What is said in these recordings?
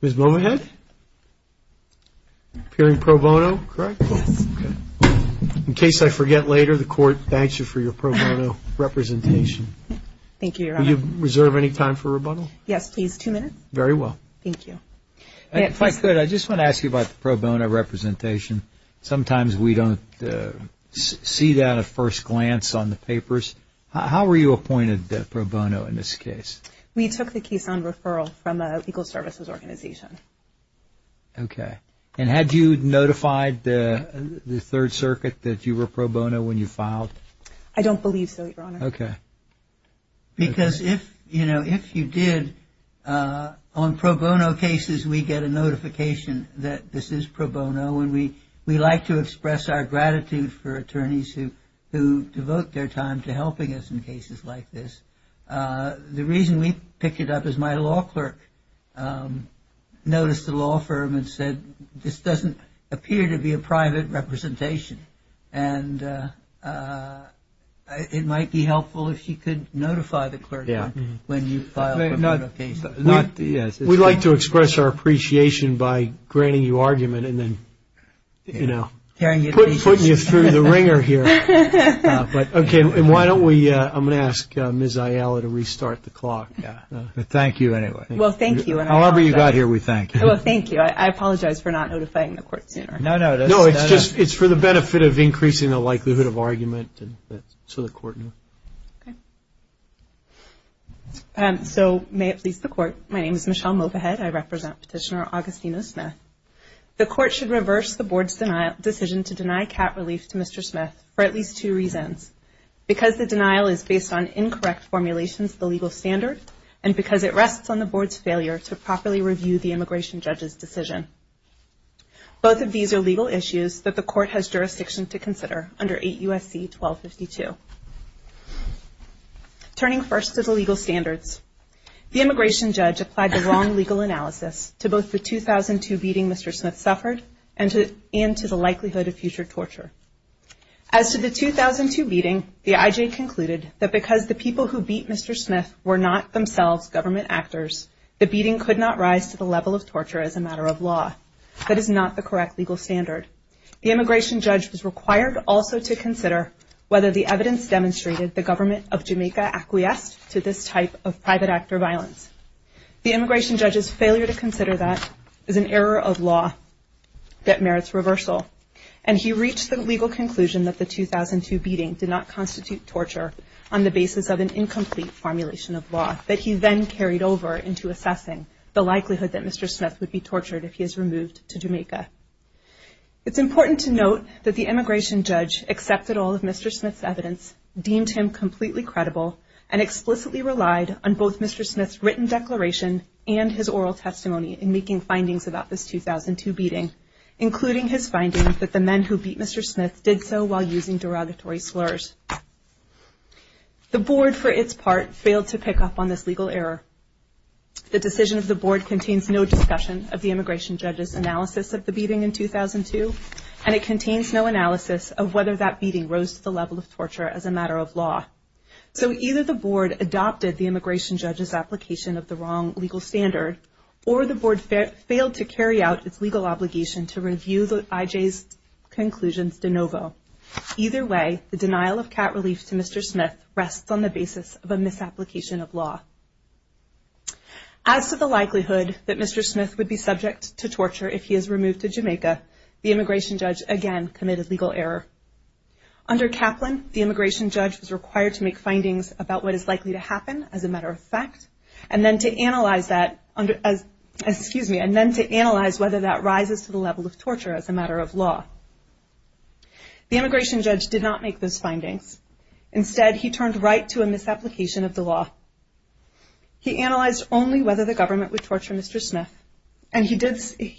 Ms. Bowenhead? Appearing pro bono, correct? Yes. In case I forget later, the court thanks you for your pro bono representation. Thank you, Your Honor. Will you reserve any time for rebuttal? Yes, please. Two minutes. Very well. Thank you. If I could, I just want to ask you about the pro bono representation. Sometimes we don't see that at first glance on the papers. How were you appointed pro bono in this case? We took the case on referral from a legal services organization. Okay. And had you notified the Third Circuit that you were pro bono when you filed? I don't believe so, Your Honor. Okay. Because if you did, on pro bono cases we get a notification that this is pro bono, and we like to express our gratitude for attorneys who devote their time to helping us in cases like this. The reason we picked it up is my law clerk noticed the law firm and said this doesn't appear to be a private representation, and it might be helpful if you could notify the clerk when you file a pro bono case. We like to express our appreciation by granting you argument and then, you know, putting you through the ringer here. Okay. And why don't we – I'm going to ask Ms. Ayala to restart the clock. Thank you anyway. Well, thank you. However you got here, we thank you. Well, thank you. I apologize for not notifying the court sooner. No, no. No, it's just for the benefit of increasing the likelihood of argument, and so the court knew. Okay. So may it please the Court, my name is Michelle Movahead. I represent Petitioner Augustino Smith. The court should reverse the Board's decision to deny cat relief to Mr. Smith for at least two reasons, because the denial is based on incorrect formulations of the legal standard and because it rests on the Board's failure to properly review the immigration judge's decision. Both of these are legal issues that the court has jurisdiction to consider under 8 U.S.C. 1252. Turning first to the legal standards, the immigration judge applied the wrong legal analysis to both the 2002 beating Mr. Smith suffered and to the likelihood of future torture. As to the 2002 beating, the IJ concluded that because the people who beat Mr. Smith were not themselves government actors, the beating could not rise to the level of torture as a matter of law. That is not the correct legal standard. The immigration judge was required also to consider whether the evidence demonstrated the government of Jamaica acquiesced to this type of private actor violence. The immigration judge's failure to consider that is an error of law that merits reversal, and he reached the legal conclusion that the 2002 beating did not constitute torture on the basis of an incomplete formulation of law that he then carried over into assessing the likelihood that Mr. Smith would be tortured if he is removed to Jamaica. It's important to note that the immigration judge accepted all of Mr. Smith's evidence, deemed him completely credible, and explicitly relied on both Mr. Smith's written declaration and his oral testimony in making findings about this 2002 beating, including his findings that the men who beat Mr. Smith did so while using derogatory slurs. The board, for its part, failed to pick up on this legal error. The decision of the board contains no discussion of the immigration judge's analysis of the beating in 2002, and it contains no analysis of whether that beating rose to the level of torture as a matter of law. So either the board adopted the immigration judge's application of the wrong legal standard, or the board failed to carry out its legal obligation to review the IJ's conclusions de novo. Either way, the denial of cat relief to Mr. Smith rests on the basis of a misapplication of law. As to the likelihood that Mr. Smith would be subject to torture if he is removed to Jamaica, the immigration judge again committed legal error. Under Kaplan, the immigration judge was required to make findings about what is likely to happen, as a matter of fact, and then to analyze whether that rises to the level of torture as a matter of law. The immigration judge did not make those findings. Instead, he turned right to a misapplication of the law. He analyzed only whether the government would torture Mr. Smith, and he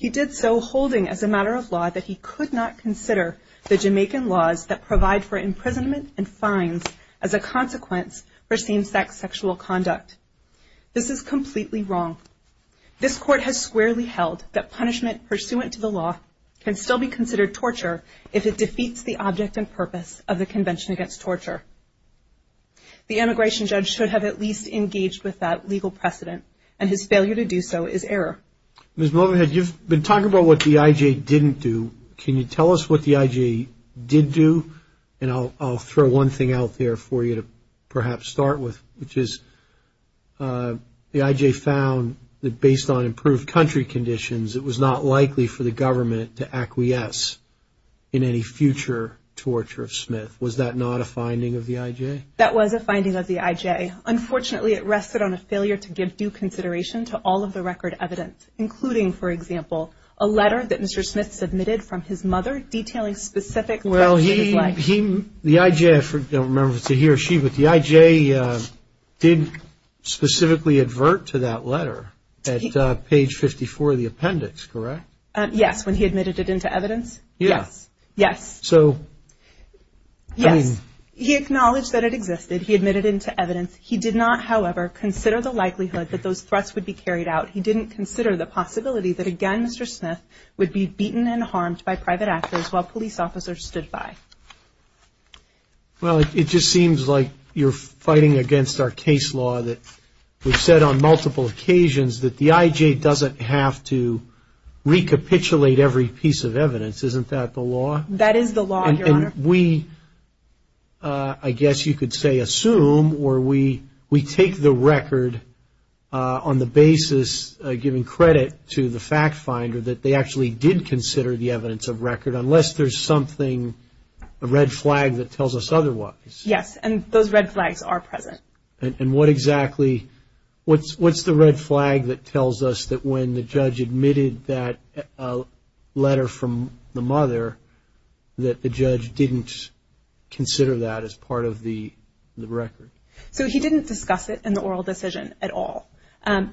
did so holding as a matter of law that he could not consider the Jamaican laws that provide for imprisonment and fines as a consequence for same-sex sexual conduct. This is completely wrong. This court has squarely held that punishment pursuant to the law can still be considered torture if it defeats the object and purpose of the Convention Against Torture. The immigration judge should have at least engaged with that legal precedent, and his failure to do so is error. Ms. Mulvahead, you've been talking about what the IJ didn't do. Can you tell us what the IJ did do? And I'll throw one thing out there for you to perhaps start with, which is the IJ found that based on improved country conditions, it was not likely for the government to acquiesce in any future torture of Smith. Was that not a finding of the IJ? That was a finding of the IJ. Unfortunately, it rested on a failure to give due consideration to all of the record evidence, including, for example, a letter that Mr. Smith submitted from his mother detailing specific threats to his life. Well, the IJ, I don't remember if it's a he or she, but the IJ did specifically advert to that letter at page 54 of the appendix, correct? Yes, when he admitted it into evidence. Yes. So, I mean. Yes. He acknowledged that it existed. He admitted it into evidence. He did not, however, consider the likelihood that those threats would be carried out. He didn't consider the possibility that, again, Mr. Smith would be beaten and harmed by private actors while police officers stood by. Well, it just seems like you're fighting against our case law that we've said on multiple occasions that the IJ doesn't have to recapitulate every piece of evidence. Isn't that the law? That is the law, Your Honor. And we, I guess you could say assume, or we take the record on the basis, giving credit to the fact finder, that they actually did consider the evidence of record unless there's something, a red flag that tells us otherwise. Yes, and those red flags are present. And what exactly, what's the red flag that tells us that when the judge admitted that letter from the mother that the judge didn't consider that as part of the record? So, he didn't discuss it in the oral decision at all.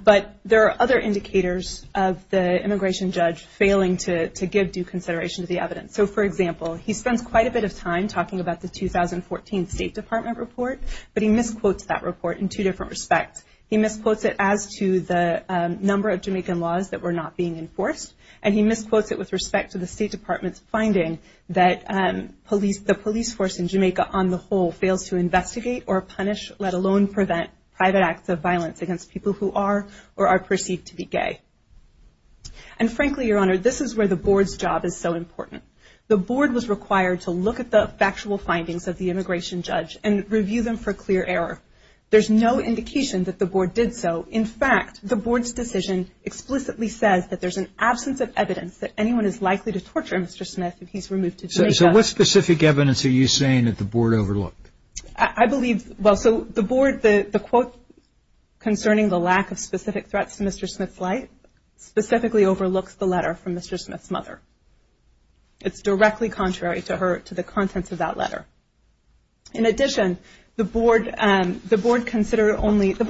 But there are other indicators of the immigration judge failing to give due consideration to the evidence. So, for example, he spends quite a bit of time talking about the 2014 State Department report, but he misquotes that report in two different respects. He misquotes it as to the number of Jamaican laws that were not being enforced, and he misquotes it with respect to the State Department's finding that police, the police force in Jamaica on the whole fails to investigate or punish, let alone prevent private acts of violence against people who are or are perceived to be gay. And frankly, Your Honor, this is where the board's job is so important. The board was required to look at the factual findings of the immigration judge and review them for clear error. There's no indication that the board did so. In fact, the board's decision explicitly says that there's an absence of evidence that anyone is likely to torture Mr. Smith if he's removed to Jamaica. So, what specific evidence are you saying that the board overlooked? I believe, well, so the board, the quote concerning the lack of specific threats to Mr. Smith's life specifically overlooks the letter from Mr. Smith's mother. It's directly contrary to her, to the contents of that letter. In addition, the board considered only, the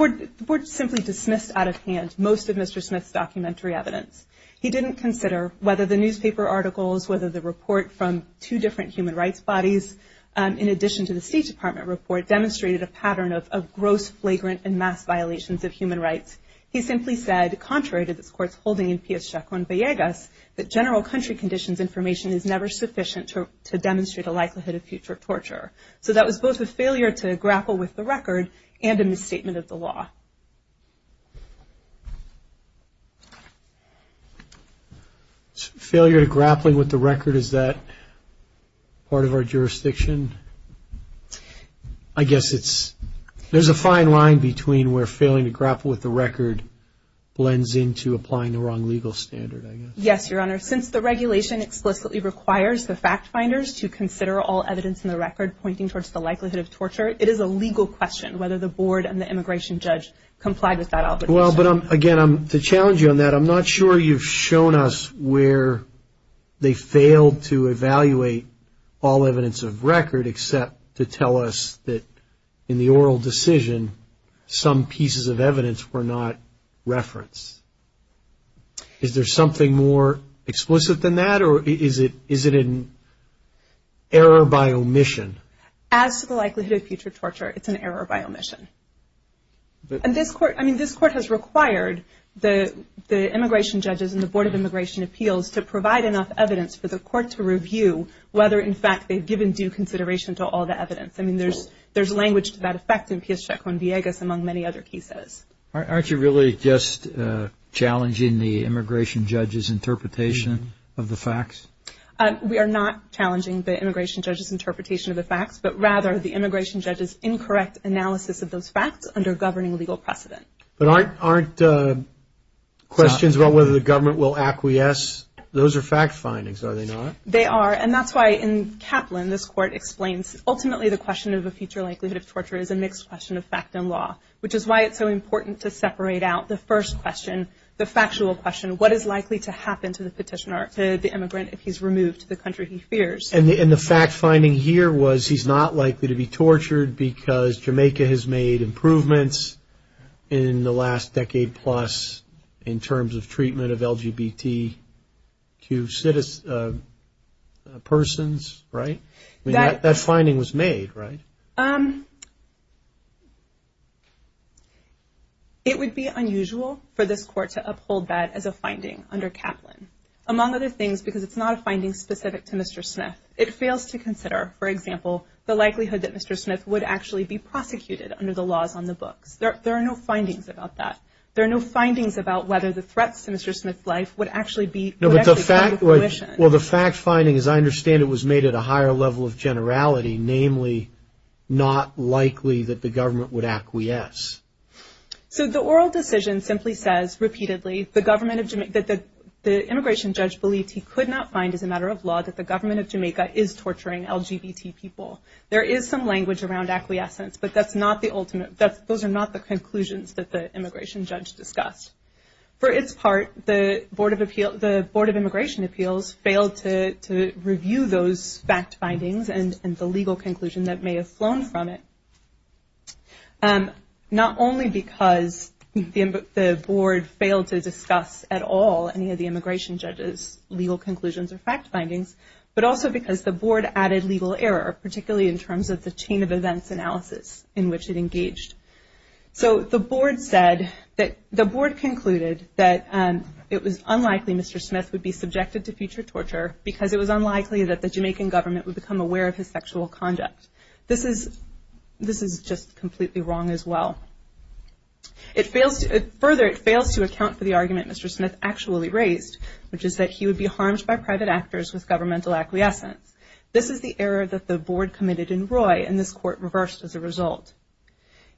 board simply dismissed out of hand most of Mr. Smith's documentary evidence. He didn't consider whether the newspaper articles, whether the report from two different human rights bodies, in addition to the State Department report, demonstrated a pattern of gross, flagrant, and mass violations of human rights. He simply said, contrary to this Court's holding in P.S. Chacón-Vallegas, that general country conditions information is never sufficient to demonstrate a likelihood of future torture. So, that was both a failure to grapple with the record and a misstatement of the law. Failure to grappling with the record, is that part of our jurisdiction? I guess it's, there's a fine line between where failing to grapple with the record blends into applying the wrong legal standard, I guess. Yes, Your Honor. Since the regulation explicitly requires the fact finders to consider all evidence in the record pointing towards the likelihood of torture, it is a legal question whether the board and the immigration judge complied with that obligation. Well, but again, to challenge you on that, I'm not sure you've shown us where they failed to evaluate all evidence of record, except to tell us that in the oral decision, some pieces of evidence were not referenced. Is there something more explicit than that, or is it an error by omission? As to the likelihood of future torture, it's an error by omission. And this Court, I mean, this Court has required the immigration judges and the Board of Immigration Appeals to provide enough evidence for the Court to review whether, in fact, they've given due consideration to all the evidence. I mean, there's language to that effect in P.S. Chacón-Vallegas, among many other cases. Aren't you really just challenging the immigration judge's interpretation of the facts? We are not challenging the immigration judge's interpretation of the facts, but rather the immigration judge's incorrect analysis of those facts under governing legal precedent. But aren't questions about whether the government will acquiesce? Those are fact findings, are they not? They are, and that's why in Kaplan, this Court explains, ultimately the question of a future likelihood of torture is a mixed question of fact and law, which is why it's so important to separate out the first question, the factual question. What is likely to happen to the petitioner, to the immigrant, if he's removed to the country he fears? And the fact finding here was he's not likely to be tortured because Jamaica has made improvements in the last decade-plus in terms of treatment of LGBT persons, right? That finding was made, right? It would be unusual for this Court to uphold that as a finding under Kaplan, among other things because it's not a finding specific to Mr. Smith. It fails to consider, for example, the likelihood that Mr. Smith would actually be prosecuted under the laws on the books. There are no findings about that. There are no findings about whether the threats to Mr. Smith's life would actually be- Well, the fact finding, as I understand it, was made at a higher level of generality, namely not likely that the government would acquiesce. So the oral decision simply says, repeatedly, that the immigration judge believed he could not find as a matter of law that the government of Jamaica is torturing LGBT people. There is some language around acquiescence, but those are not the conclusions that the immigration judge discussed. For its part, the Board of Immigration Appeals failed to review those fact findings and the legal conclusion that may have flown from it. Not only because the Board failed to discuss at all any of the immigration judge's legal conclusions or fact findings, but also because the Board added legal error, particularly in terms of the chain of events analysis in which it engaged. So the Board concluded that it was unlikely Mr. Smith would be subjected to future torture because it was unlikely that the Jamaican government would become aware of his sexual conduct. This is just completely wrong as well. Further, it fails to account for the argument Mr. Smith actually raised, which is that he would be harmed by private actors with governmental acquiescence. This is the error that the Board committed in Roy and this court reversed as a result.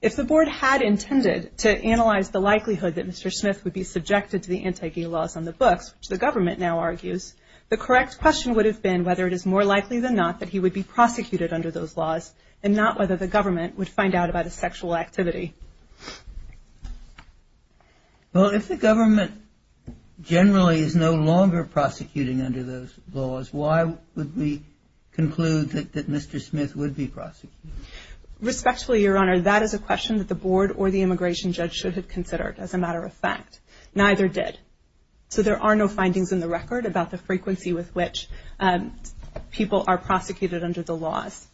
If the Board had intended to analyze the likelihood that Mr. Smith would be subjected to the anti-gay laws on the books, which the government now argues, the correct question would have been whether it is more likely than not that he would be prosecuted under those laws and not whether the government would find out about his sexual activity. Well, if the government generally is no longer prosecuting under those laws, why would we conclude that Mr. Smith would be prosecuted? Respectfully, Your Honor, that is a question that the Board or the immigration judge should have considered as a matter of fact. Neither did. So there are no findings in the record about the frequency with which people are prosecuted under the laws.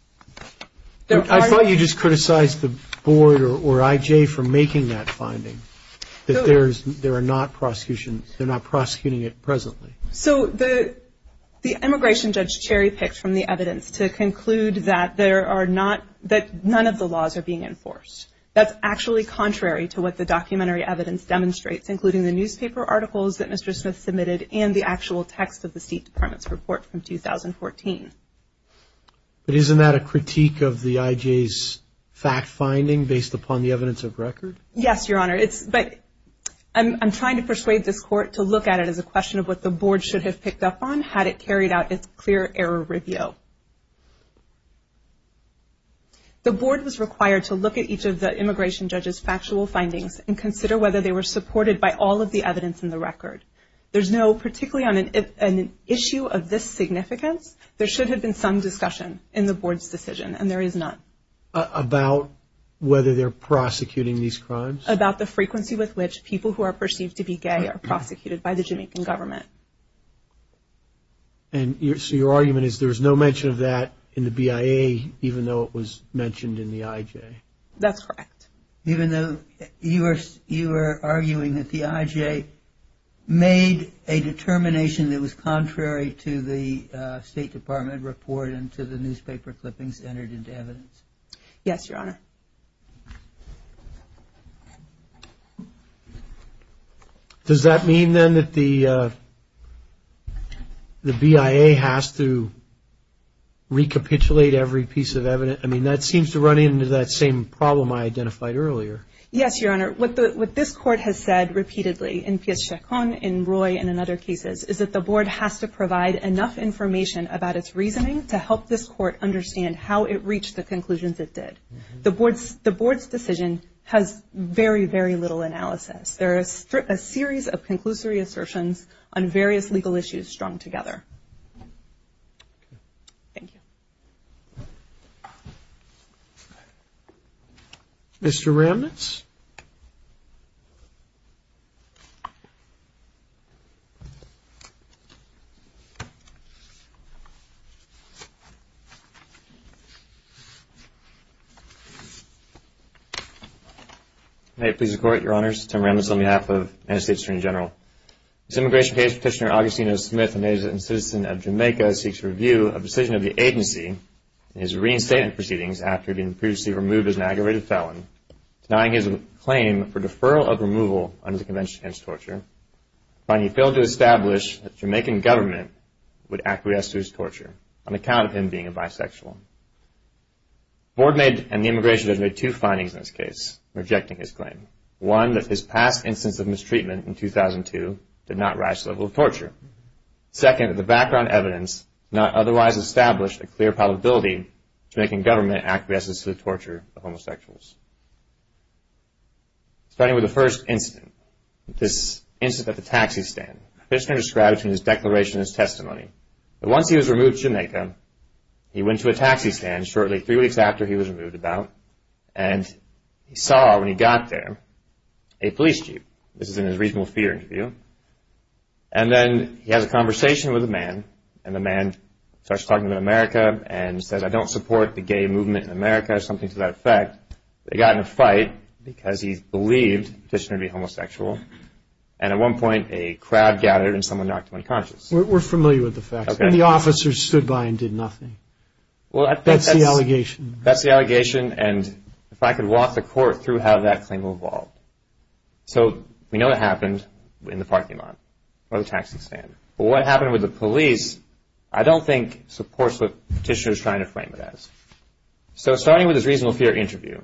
I thought you just criticized the Board or IJ for making that finding, that they're not prosecuting it presently. So the immigration judge cherry-picked from the evidence to conclude that none of the laws are being enforced. That's actually contrary to what the documentary evidence demonstrates, including the newspaper articles that Mr. Smith submitted and the actual text of the State Department's report from 2014. But isn't that a critique of the IJ's fact-finding based upon the evidence of record? Yes, Your Honor, but I'm trying to persuade this court to look at it as a question of what the Board should have picked up on had it carried out its clear error review. The Board was required to look at each of the immigration judge's factual findings and consider whether they were supported by all of the evidence in the record. There's no particularly on an issue of this significance. There should have been some discussion in the Board's decision, and there is none. About whether they're prosecuting these crimes? About the frequency with which people who are perceived to be gay are prosecuted by the Jamaican government. And so your argument is there's no mention of that in the BIA, even though it was mentioned in the IJ? That's correct. Even though you are arguing that the IJ made a determination that was contrary to the State Department report and to the newspaper clippings entered into evidence? Yes, Your Honor. Does that mean, then, that the BIA has to recapitulate every piece of evidence? I mean, that seems to run into that same problem I identified earlier. Yes, Your Honor. What this Court has said repeatedly in Piazza Chacon, in Roy, and in other cases, is that the Board has to provide enough information about its reasoning to help this Court understand how it reached the conclusions it did. The Board's decision has very, very little analysis. There is a series of conclusory assertions on various legal issues strung together. Thank you. Mr. Ramnitz? May it please the Court, Your Honors, Tim Ramnitz on behalf of the United States Attorney General. This immigration case, Petitioner Augustino Smith, a native and citizen of Jamaica, seeks review of the decision of the agency in his reinstatement proceedings after being previously removed as an aggravated felon, denying his claim for deferral of removal under the Convention Against Torture, finding he failed to establish that the Jamaican government would acquiesce to his torture on account of him being a bisexual. The Board and the immigration judge made two findings in this case, rejecting his claim. One, that his past instance of mistreatment in 2002 did not rise to the level of torture. Second, that the background evidence not otherwise established a clear probability that the Jamaican government acquiesces to the torture of homosexuals. Starting with the first incident, this incident at the taxi stand, Petitioner described it in his declaration and testimony. Once he was removed to Jamaica, he went to a taxi stand shortly three weeks after he was removed about, and he saw, when he got there, a police jeep. This is in his reasonable fear interview. And then he has a conversation with a man, and the man starts talking about America, and says, I don't support the gay movement in America, or something to that effect. They got in a fight because he believed Petitioner to be homosexual, and at one point a crowd gathered and someone knocked him unconscious. We're familiar with the facts. And the officers stood by and did nothing. That's the allegation. That's the allegation, and if I could walk the court through how that claim evolved. So we know what happened in the parking lot or the taxi stand, but what happened with the police I don't think supports what Petitioner is trying to frame it as. So starting with his reasonable fear interview,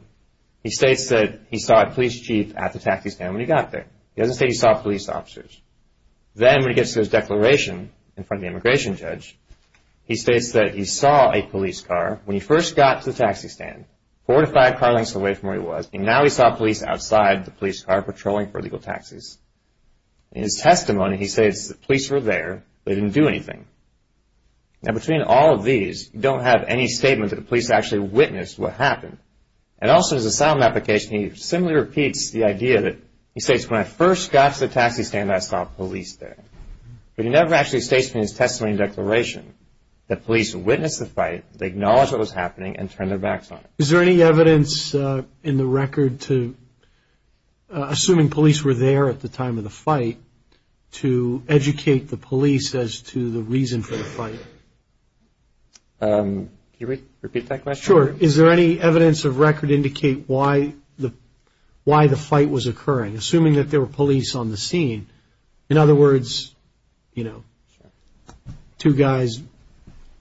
he states that he saw a police jeep at the taxi stand when he got there. He doesn't say he saw police officers. Then when he gets to his declaration in front of the immigration judge, he states that he saw a police car when he first got to the taxi stand, fortified car lengths away from where he was, and now he saw police outside the police car patrolling for illegal taxis. In his testimony, he states that police were there, but they didn't do anything. Now between all of these, you don't have any statement that the police actually witnessed what happened. And also in his asylum application, he similarly repeats the idea that, he states, when I first got to the taxi stand, I saw police there. But he never actually states in his testimony and declaration that police witnessed the fight, that they acknowledged what was happening and turned their backs on it. Is there any evidence in the record to, assuming police were there at the time of the fight, to educate the police as to the reason for the fight? Can you repeat that question? Sure. Is there any evidence of record to indicate why the fight was occurring, assuming that there were police on the scene? In other words, you know, two guys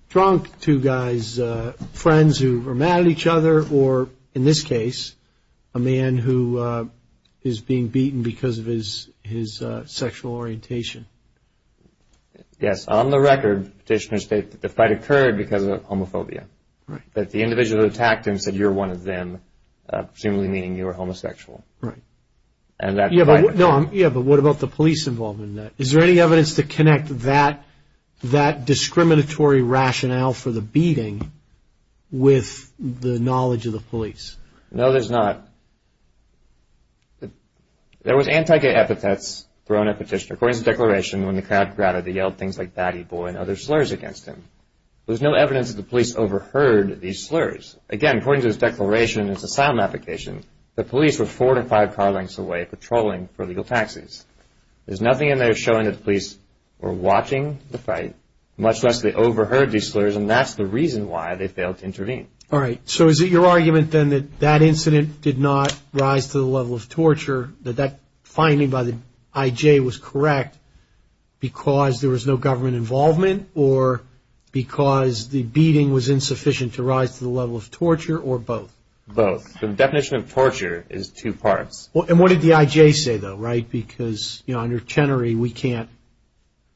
drunk, two guys, friends who were mad at each other, or in this case, a man who is being beaten because of his sexual orientation. Yes, on the record, petitioners state that the fight occurred because of homophobia. Right. That the individual who attacked him said you're one of them, presumably meaning you were homosexual. Right. Yeah, but what about the police involvement in that? Is there any evidence to connect that discriminatory rationale for the beating with the knowledge of the police? No, there's not. There was anti-gay epithets thrown at the petitioner. According to the declaration, when the crowd crowded, they yelled things like, baddie boy, and other slurs against him. There was no evidence that the police overheard these slurs. Again, according to this declaration, it's a silent application, the police were four to five car lengths away patrolling for legal taxis. There's nothing in there showing that the police were watching the fight, much less they overheard these slurs, and that's the reason why they failed to intervene. All right, so is it your argument then that that incident did not rise to the level of torture, that that finding by the IJ was correct because there was no government involvement or because the beating was insufficient to rise to the level of torture, or both? Both. The definition of torture is two parts. And what did the IJ say, though, right? Because, you know, under Chenery, we can't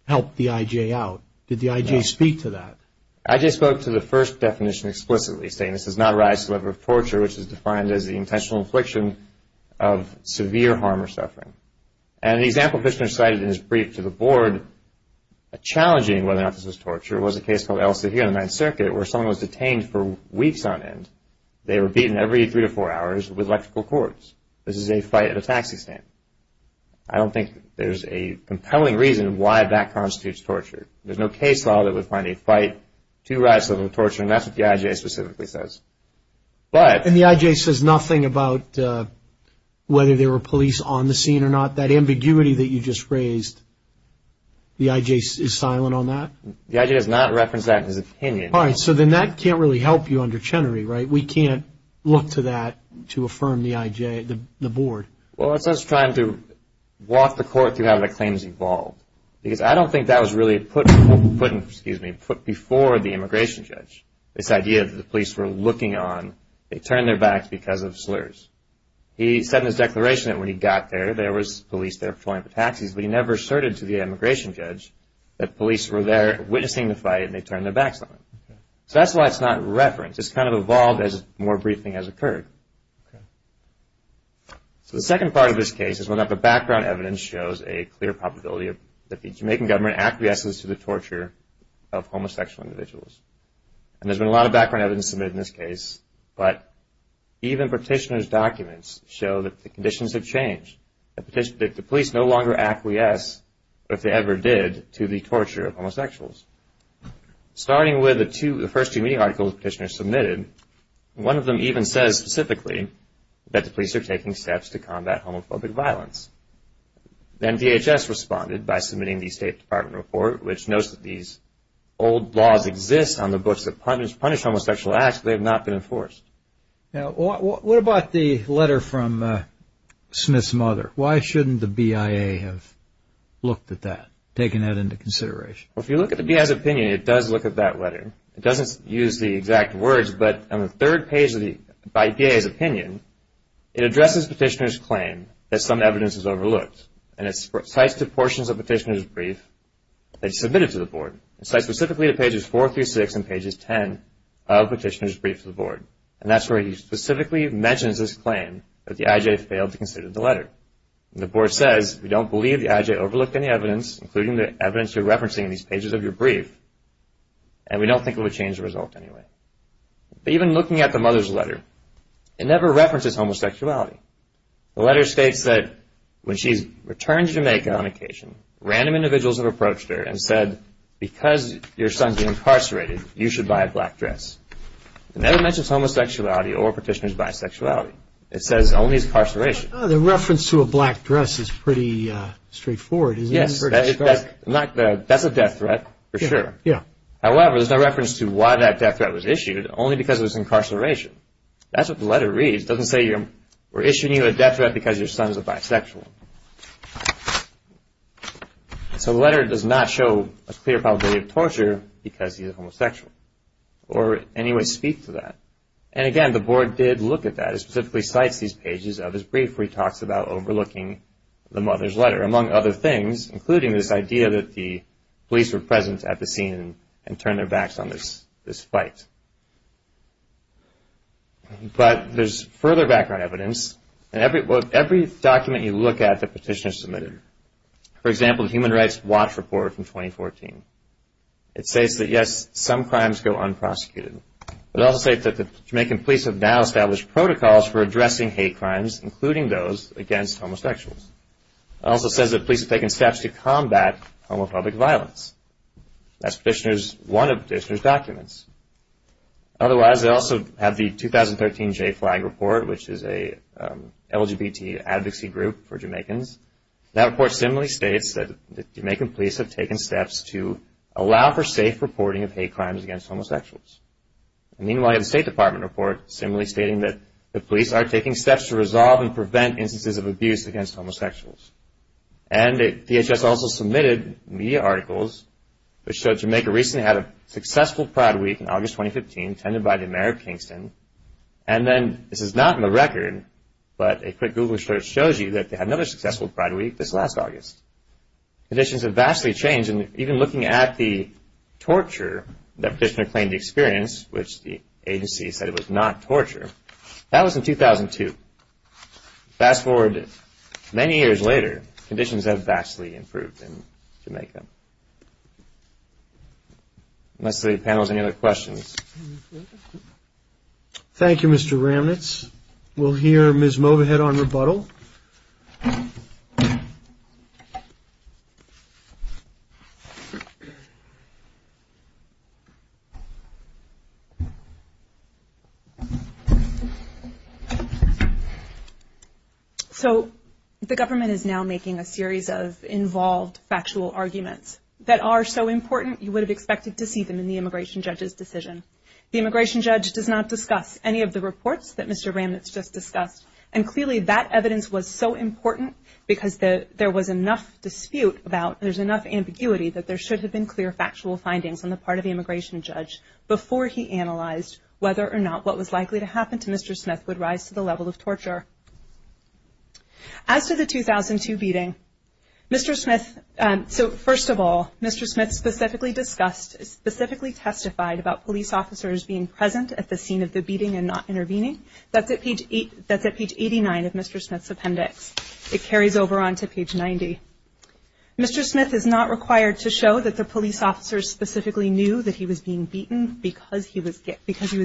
help the IJ out. Did the IJ speak to that? The IJ spoke to the first definition explicitly, saying this does not rise to the level of torture, which is defined as the intentional infliction of severe harm or suffering. And an example Fishner cited in his brief to the board challenging whether or not this was torture was a case called El Seguro in the Ninth Circuit where someone was detained for weeks on end. They were beaten every three to four hours with electrical cords. This is a fight at a taxi stand. I don't think there's a compelling reason why that constitutes torture. There's no case law that would find a fight to rise to the level of torture, and that's what the IJ specifically says. And the IJ says nothing about whether there were police on the scene or not? That ambiguity that you just raised, the IJ is silent on that? The IJ has not referenced that in his opinion. All right, so then that can't really help you under Chenery, right? We can't look to that to affirm the IJ, the board. Well, it's us trying to walk the court through how the claims evolved, because I don't think that was really put before the immigration judge, this idea that the police were looking on, they turned their backs because of slurs. He said in his declaration that when he got there, there was police there patrolling for taxis, but he never asserted to the immigration judge that police were there witnessing the fight and they turned their backs on him. So that's why it's not referenced. It's kind of evolved as more briefing has occurred. So the second part of this case is one that the background evidence shows a clear probability that the Jamaican government acquiesces to the torture of homosexual individuals. And there's been a lot of background evidence submitted in this case, but even Petitioner's documents show that the conditions have changed, that the police no longer acquiesce, if they ever did, to the torture of homosexuals. Starting with the first two media articles Petitioner submitted, one of them even says specifically that the police are taking steps to combat homophobic violence. Then DHS responded by submitting the State Department report, which notes that these old laws exist on the books that punish homosexual acts, but they have not been enforced. What about the letter from Smith's mother? Why shouldn't the BIA have looked at that, taken that into consideration? If you look at the BIA's opinion, it does look at that letter. It doesn't use the exact words, but on the third page of the BIA's opinion, it addresses Petitioner's claim that some evidence is overlooked, and it cites the portions of Petitioner's brief that he submitted to the Board. It cites specifically the pages 4 through 6 and pages 10 of Petitioner's brief to the Board, and that's where he specifically mentions his claim that the IJA failed to consider the letter. The Board says, we don't believe the IJA overlooked any evidence, including the evidence you're referencing in these pages of your brief, and we don't think it will change the result anyway. But even looking at the mother's letter, it never references homosexuality. The letter states that when she returns to Jamaica on occasion, random individuals have approached her and said, because your son is incarcerated, you should buy a black dress. It never mentions homosexuality or Petitioner's bisexuality. It says only his incarceration. The reference to a black dress is pretty straightforward, isn't it? Yes, that's a death threat for sure. However, there's no reference to why that death threat was issued, only because it was incarceration. That's what the letter reads. It doesn't say we're issuing you a death threat because your son is a bisexual. So the letter does not show a clear probability of torture because he's a homosexual, or any way speak to that. And again, the Board did look at that. It specifically cites these pages of his brief where he talks about overlooking the mother's letter, among other things, including this idea that the police were present at the scene and turned their backs on this fight. But there's further background evidence. In every document you look at that Petitioner submitted, for example, the Human Rights Watch Report from 2014, it states that, yes, some crimes go unprosecuted. It also states that the Jamaican police have now established protocols for addressing hate crimes, including those against homosexuals. It also says that police have taken steps to combat homophobic violence. That's one of Petitioner's documents. Otherwise, they also have the 2013 JFLAG Report, which is a LGBT advocacy group for Jamaicans. That report similarly states that Jamaican police have taken steps to allow for safe reporting of hate crimes against homosexuals. Meanwhile, you have the State Department report similarly stating that the police are taking steps to resolve and prevent instances of abuse against homosexuals. And DHS also submitted media articles which showed Jamaica recently had a successful Pride Week in August 2015, attended by the mayor of Kingston. And then, this is not in the record, but a quick Google search shows you that they had another successful Pride Week this last August. Conditions have vastly changed, and even looking at the torture that Petitioner claimed to experience, which the agency said was not torture, that was in 2002. Fast forward many years later, conditions have vastly improved in Jamaica. Let's see if the panel has any other questions. Thank you, Mr. Ramnitz. We'll hear Ms. Movahead on rebuttal. So, the government is now making a series of involved factual arguments that are so important you would have expected to see them in the immigration judge's decision. The immigration judge does not discuss any of the reports that Mr. Ramnitz just discussed, and clearly that evidence was so important because there was enough dispute about, there's enough ambiguity that there should have been clear factual findings on the part of the immigration judge before he analyzed whether or not what was likely to happen to Mr. Smith would rise to the level of torture. As to the 2002 beating, Mr. Smith, so first of all, Mr. Smith specifically discussed, specifically testified about police officers being present at the scene of the beating and not intervening. That's at page 89 of Mr. Smith's appendix. It carries over onto page 90. Mr. Smith is not required to show that the police officers specifically knew that he was being beaten because he was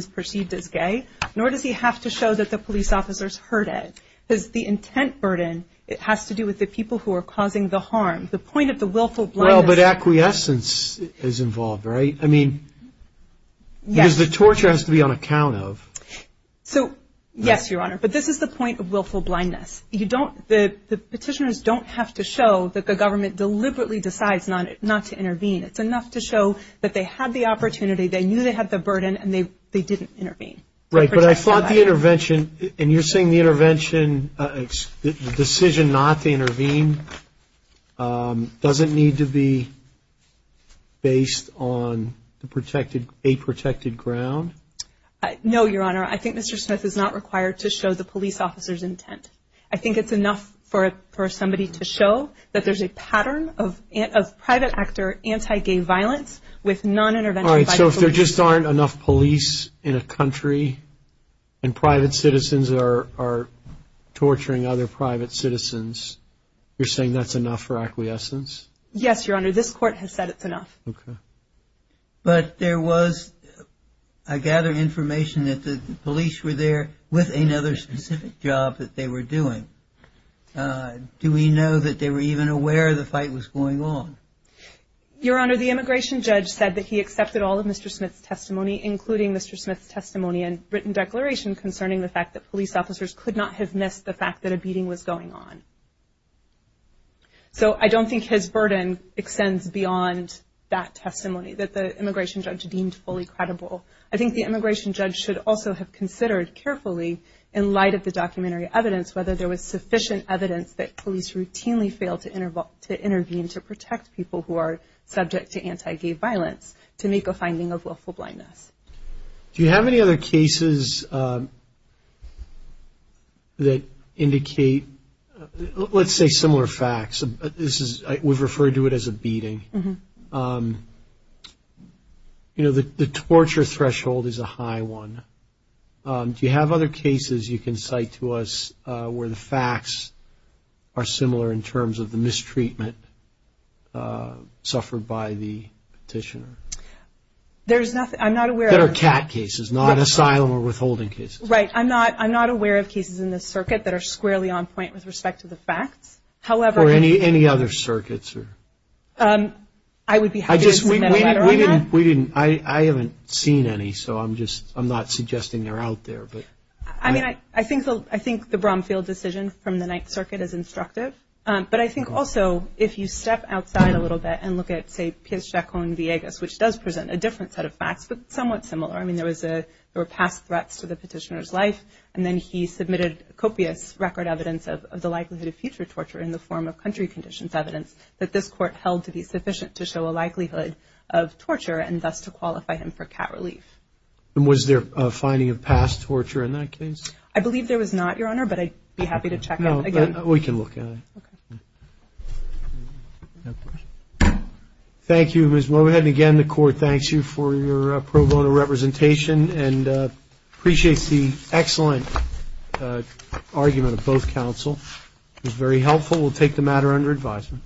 perceived as gay, nor does he have to show that the police officers heard it, because the intent burden, it has to do with the people who are causing the harm. The point of the willful blindness. Well, but acquiescence is involved, right? I mean, because the torture has to be on account of. So, yes, Your Honor, but this is the point of willful blindness. The petitioners don't have to show that the government deliberately decides not to intervene. It's enough to show that they had the opportunity, they knew they had the burden, and they didn't intervene. Right, but I thought the intervention, and you're saying the intervention, the decision not to intervene doesn't need to be based on a protected ground? No, Your Honor. I think Mr. Smith is not required to show the police officers' intent. I think it's enough for somebody to show that there's a pattern of private actor anti-gay violence with non-intervention by the police. If there just aren't enough police in a country, and private citizens are torturing other private citizens, you're saying that's enough for acquiescence? Yes, Your Honor, this Court has said it's enough. Okay. But there was, I gather, information that the police were there with another specific job that they were doing. Do we know that they were even aware the fight was going on? Your Honor, the immigration judge said that he accepted all of Mr. Smith's testimony, including Mr. Smith's testimony and written declaration concerning the fact that police officers could not have missed the fact that a beating was going on. So I don't think his burden extends beyond that testimony that the immigration judge deemed fully credible. I think the immigration judge should also have considered carefully, in light of the documentary evidence, whether there was sufficient evidence that police routinely failed to intervene to protect people who are subject to anti-gay violence to make a finding of willful blindness. Do you have any other cases that indicate, let's say, similar facts? We've referred to it as a beating. The torture threshold is a high one. Do you have other cases you can cite to us where the facts are similar in terms of the mistreatment suffered by the petitioner? There's nothing. I'm not aware. There are cat cases, not asylum or withholding cases. Right. I'm not aware of cases in this circuit that are squarely on point with respect to the facts. Or any other circuits? I would be happy to submit a letter on that. We didn't. I haven't seen any, so I'm not suggesting they're out there. I think the Bromfield decision from the Ninth Circuit is instructive. But I think also, if you step outside a little bit and look at, say, P.H. Jacon-Villegas, which does present a different set of facts, but somewhat similar. I mean, there were past threats to the petitioner's life. And then he submitted copious record evidence of the likelihood of future torture in the form of country conditions evidence that this Court held to be sufficient to show a likelihood of torture, and thus to qualify him for cat relief. And was there a finding of past torture in that case? I believe there was not, Your Honor, but I'd be happy to check it again. We can look at it. Okay. Thank you, Ms. Mowat. And, again, the Court thanks you for your pro bono representation and appreciates the excellent argument of both counsel. It was very helpful. We'll take the matter under advisement.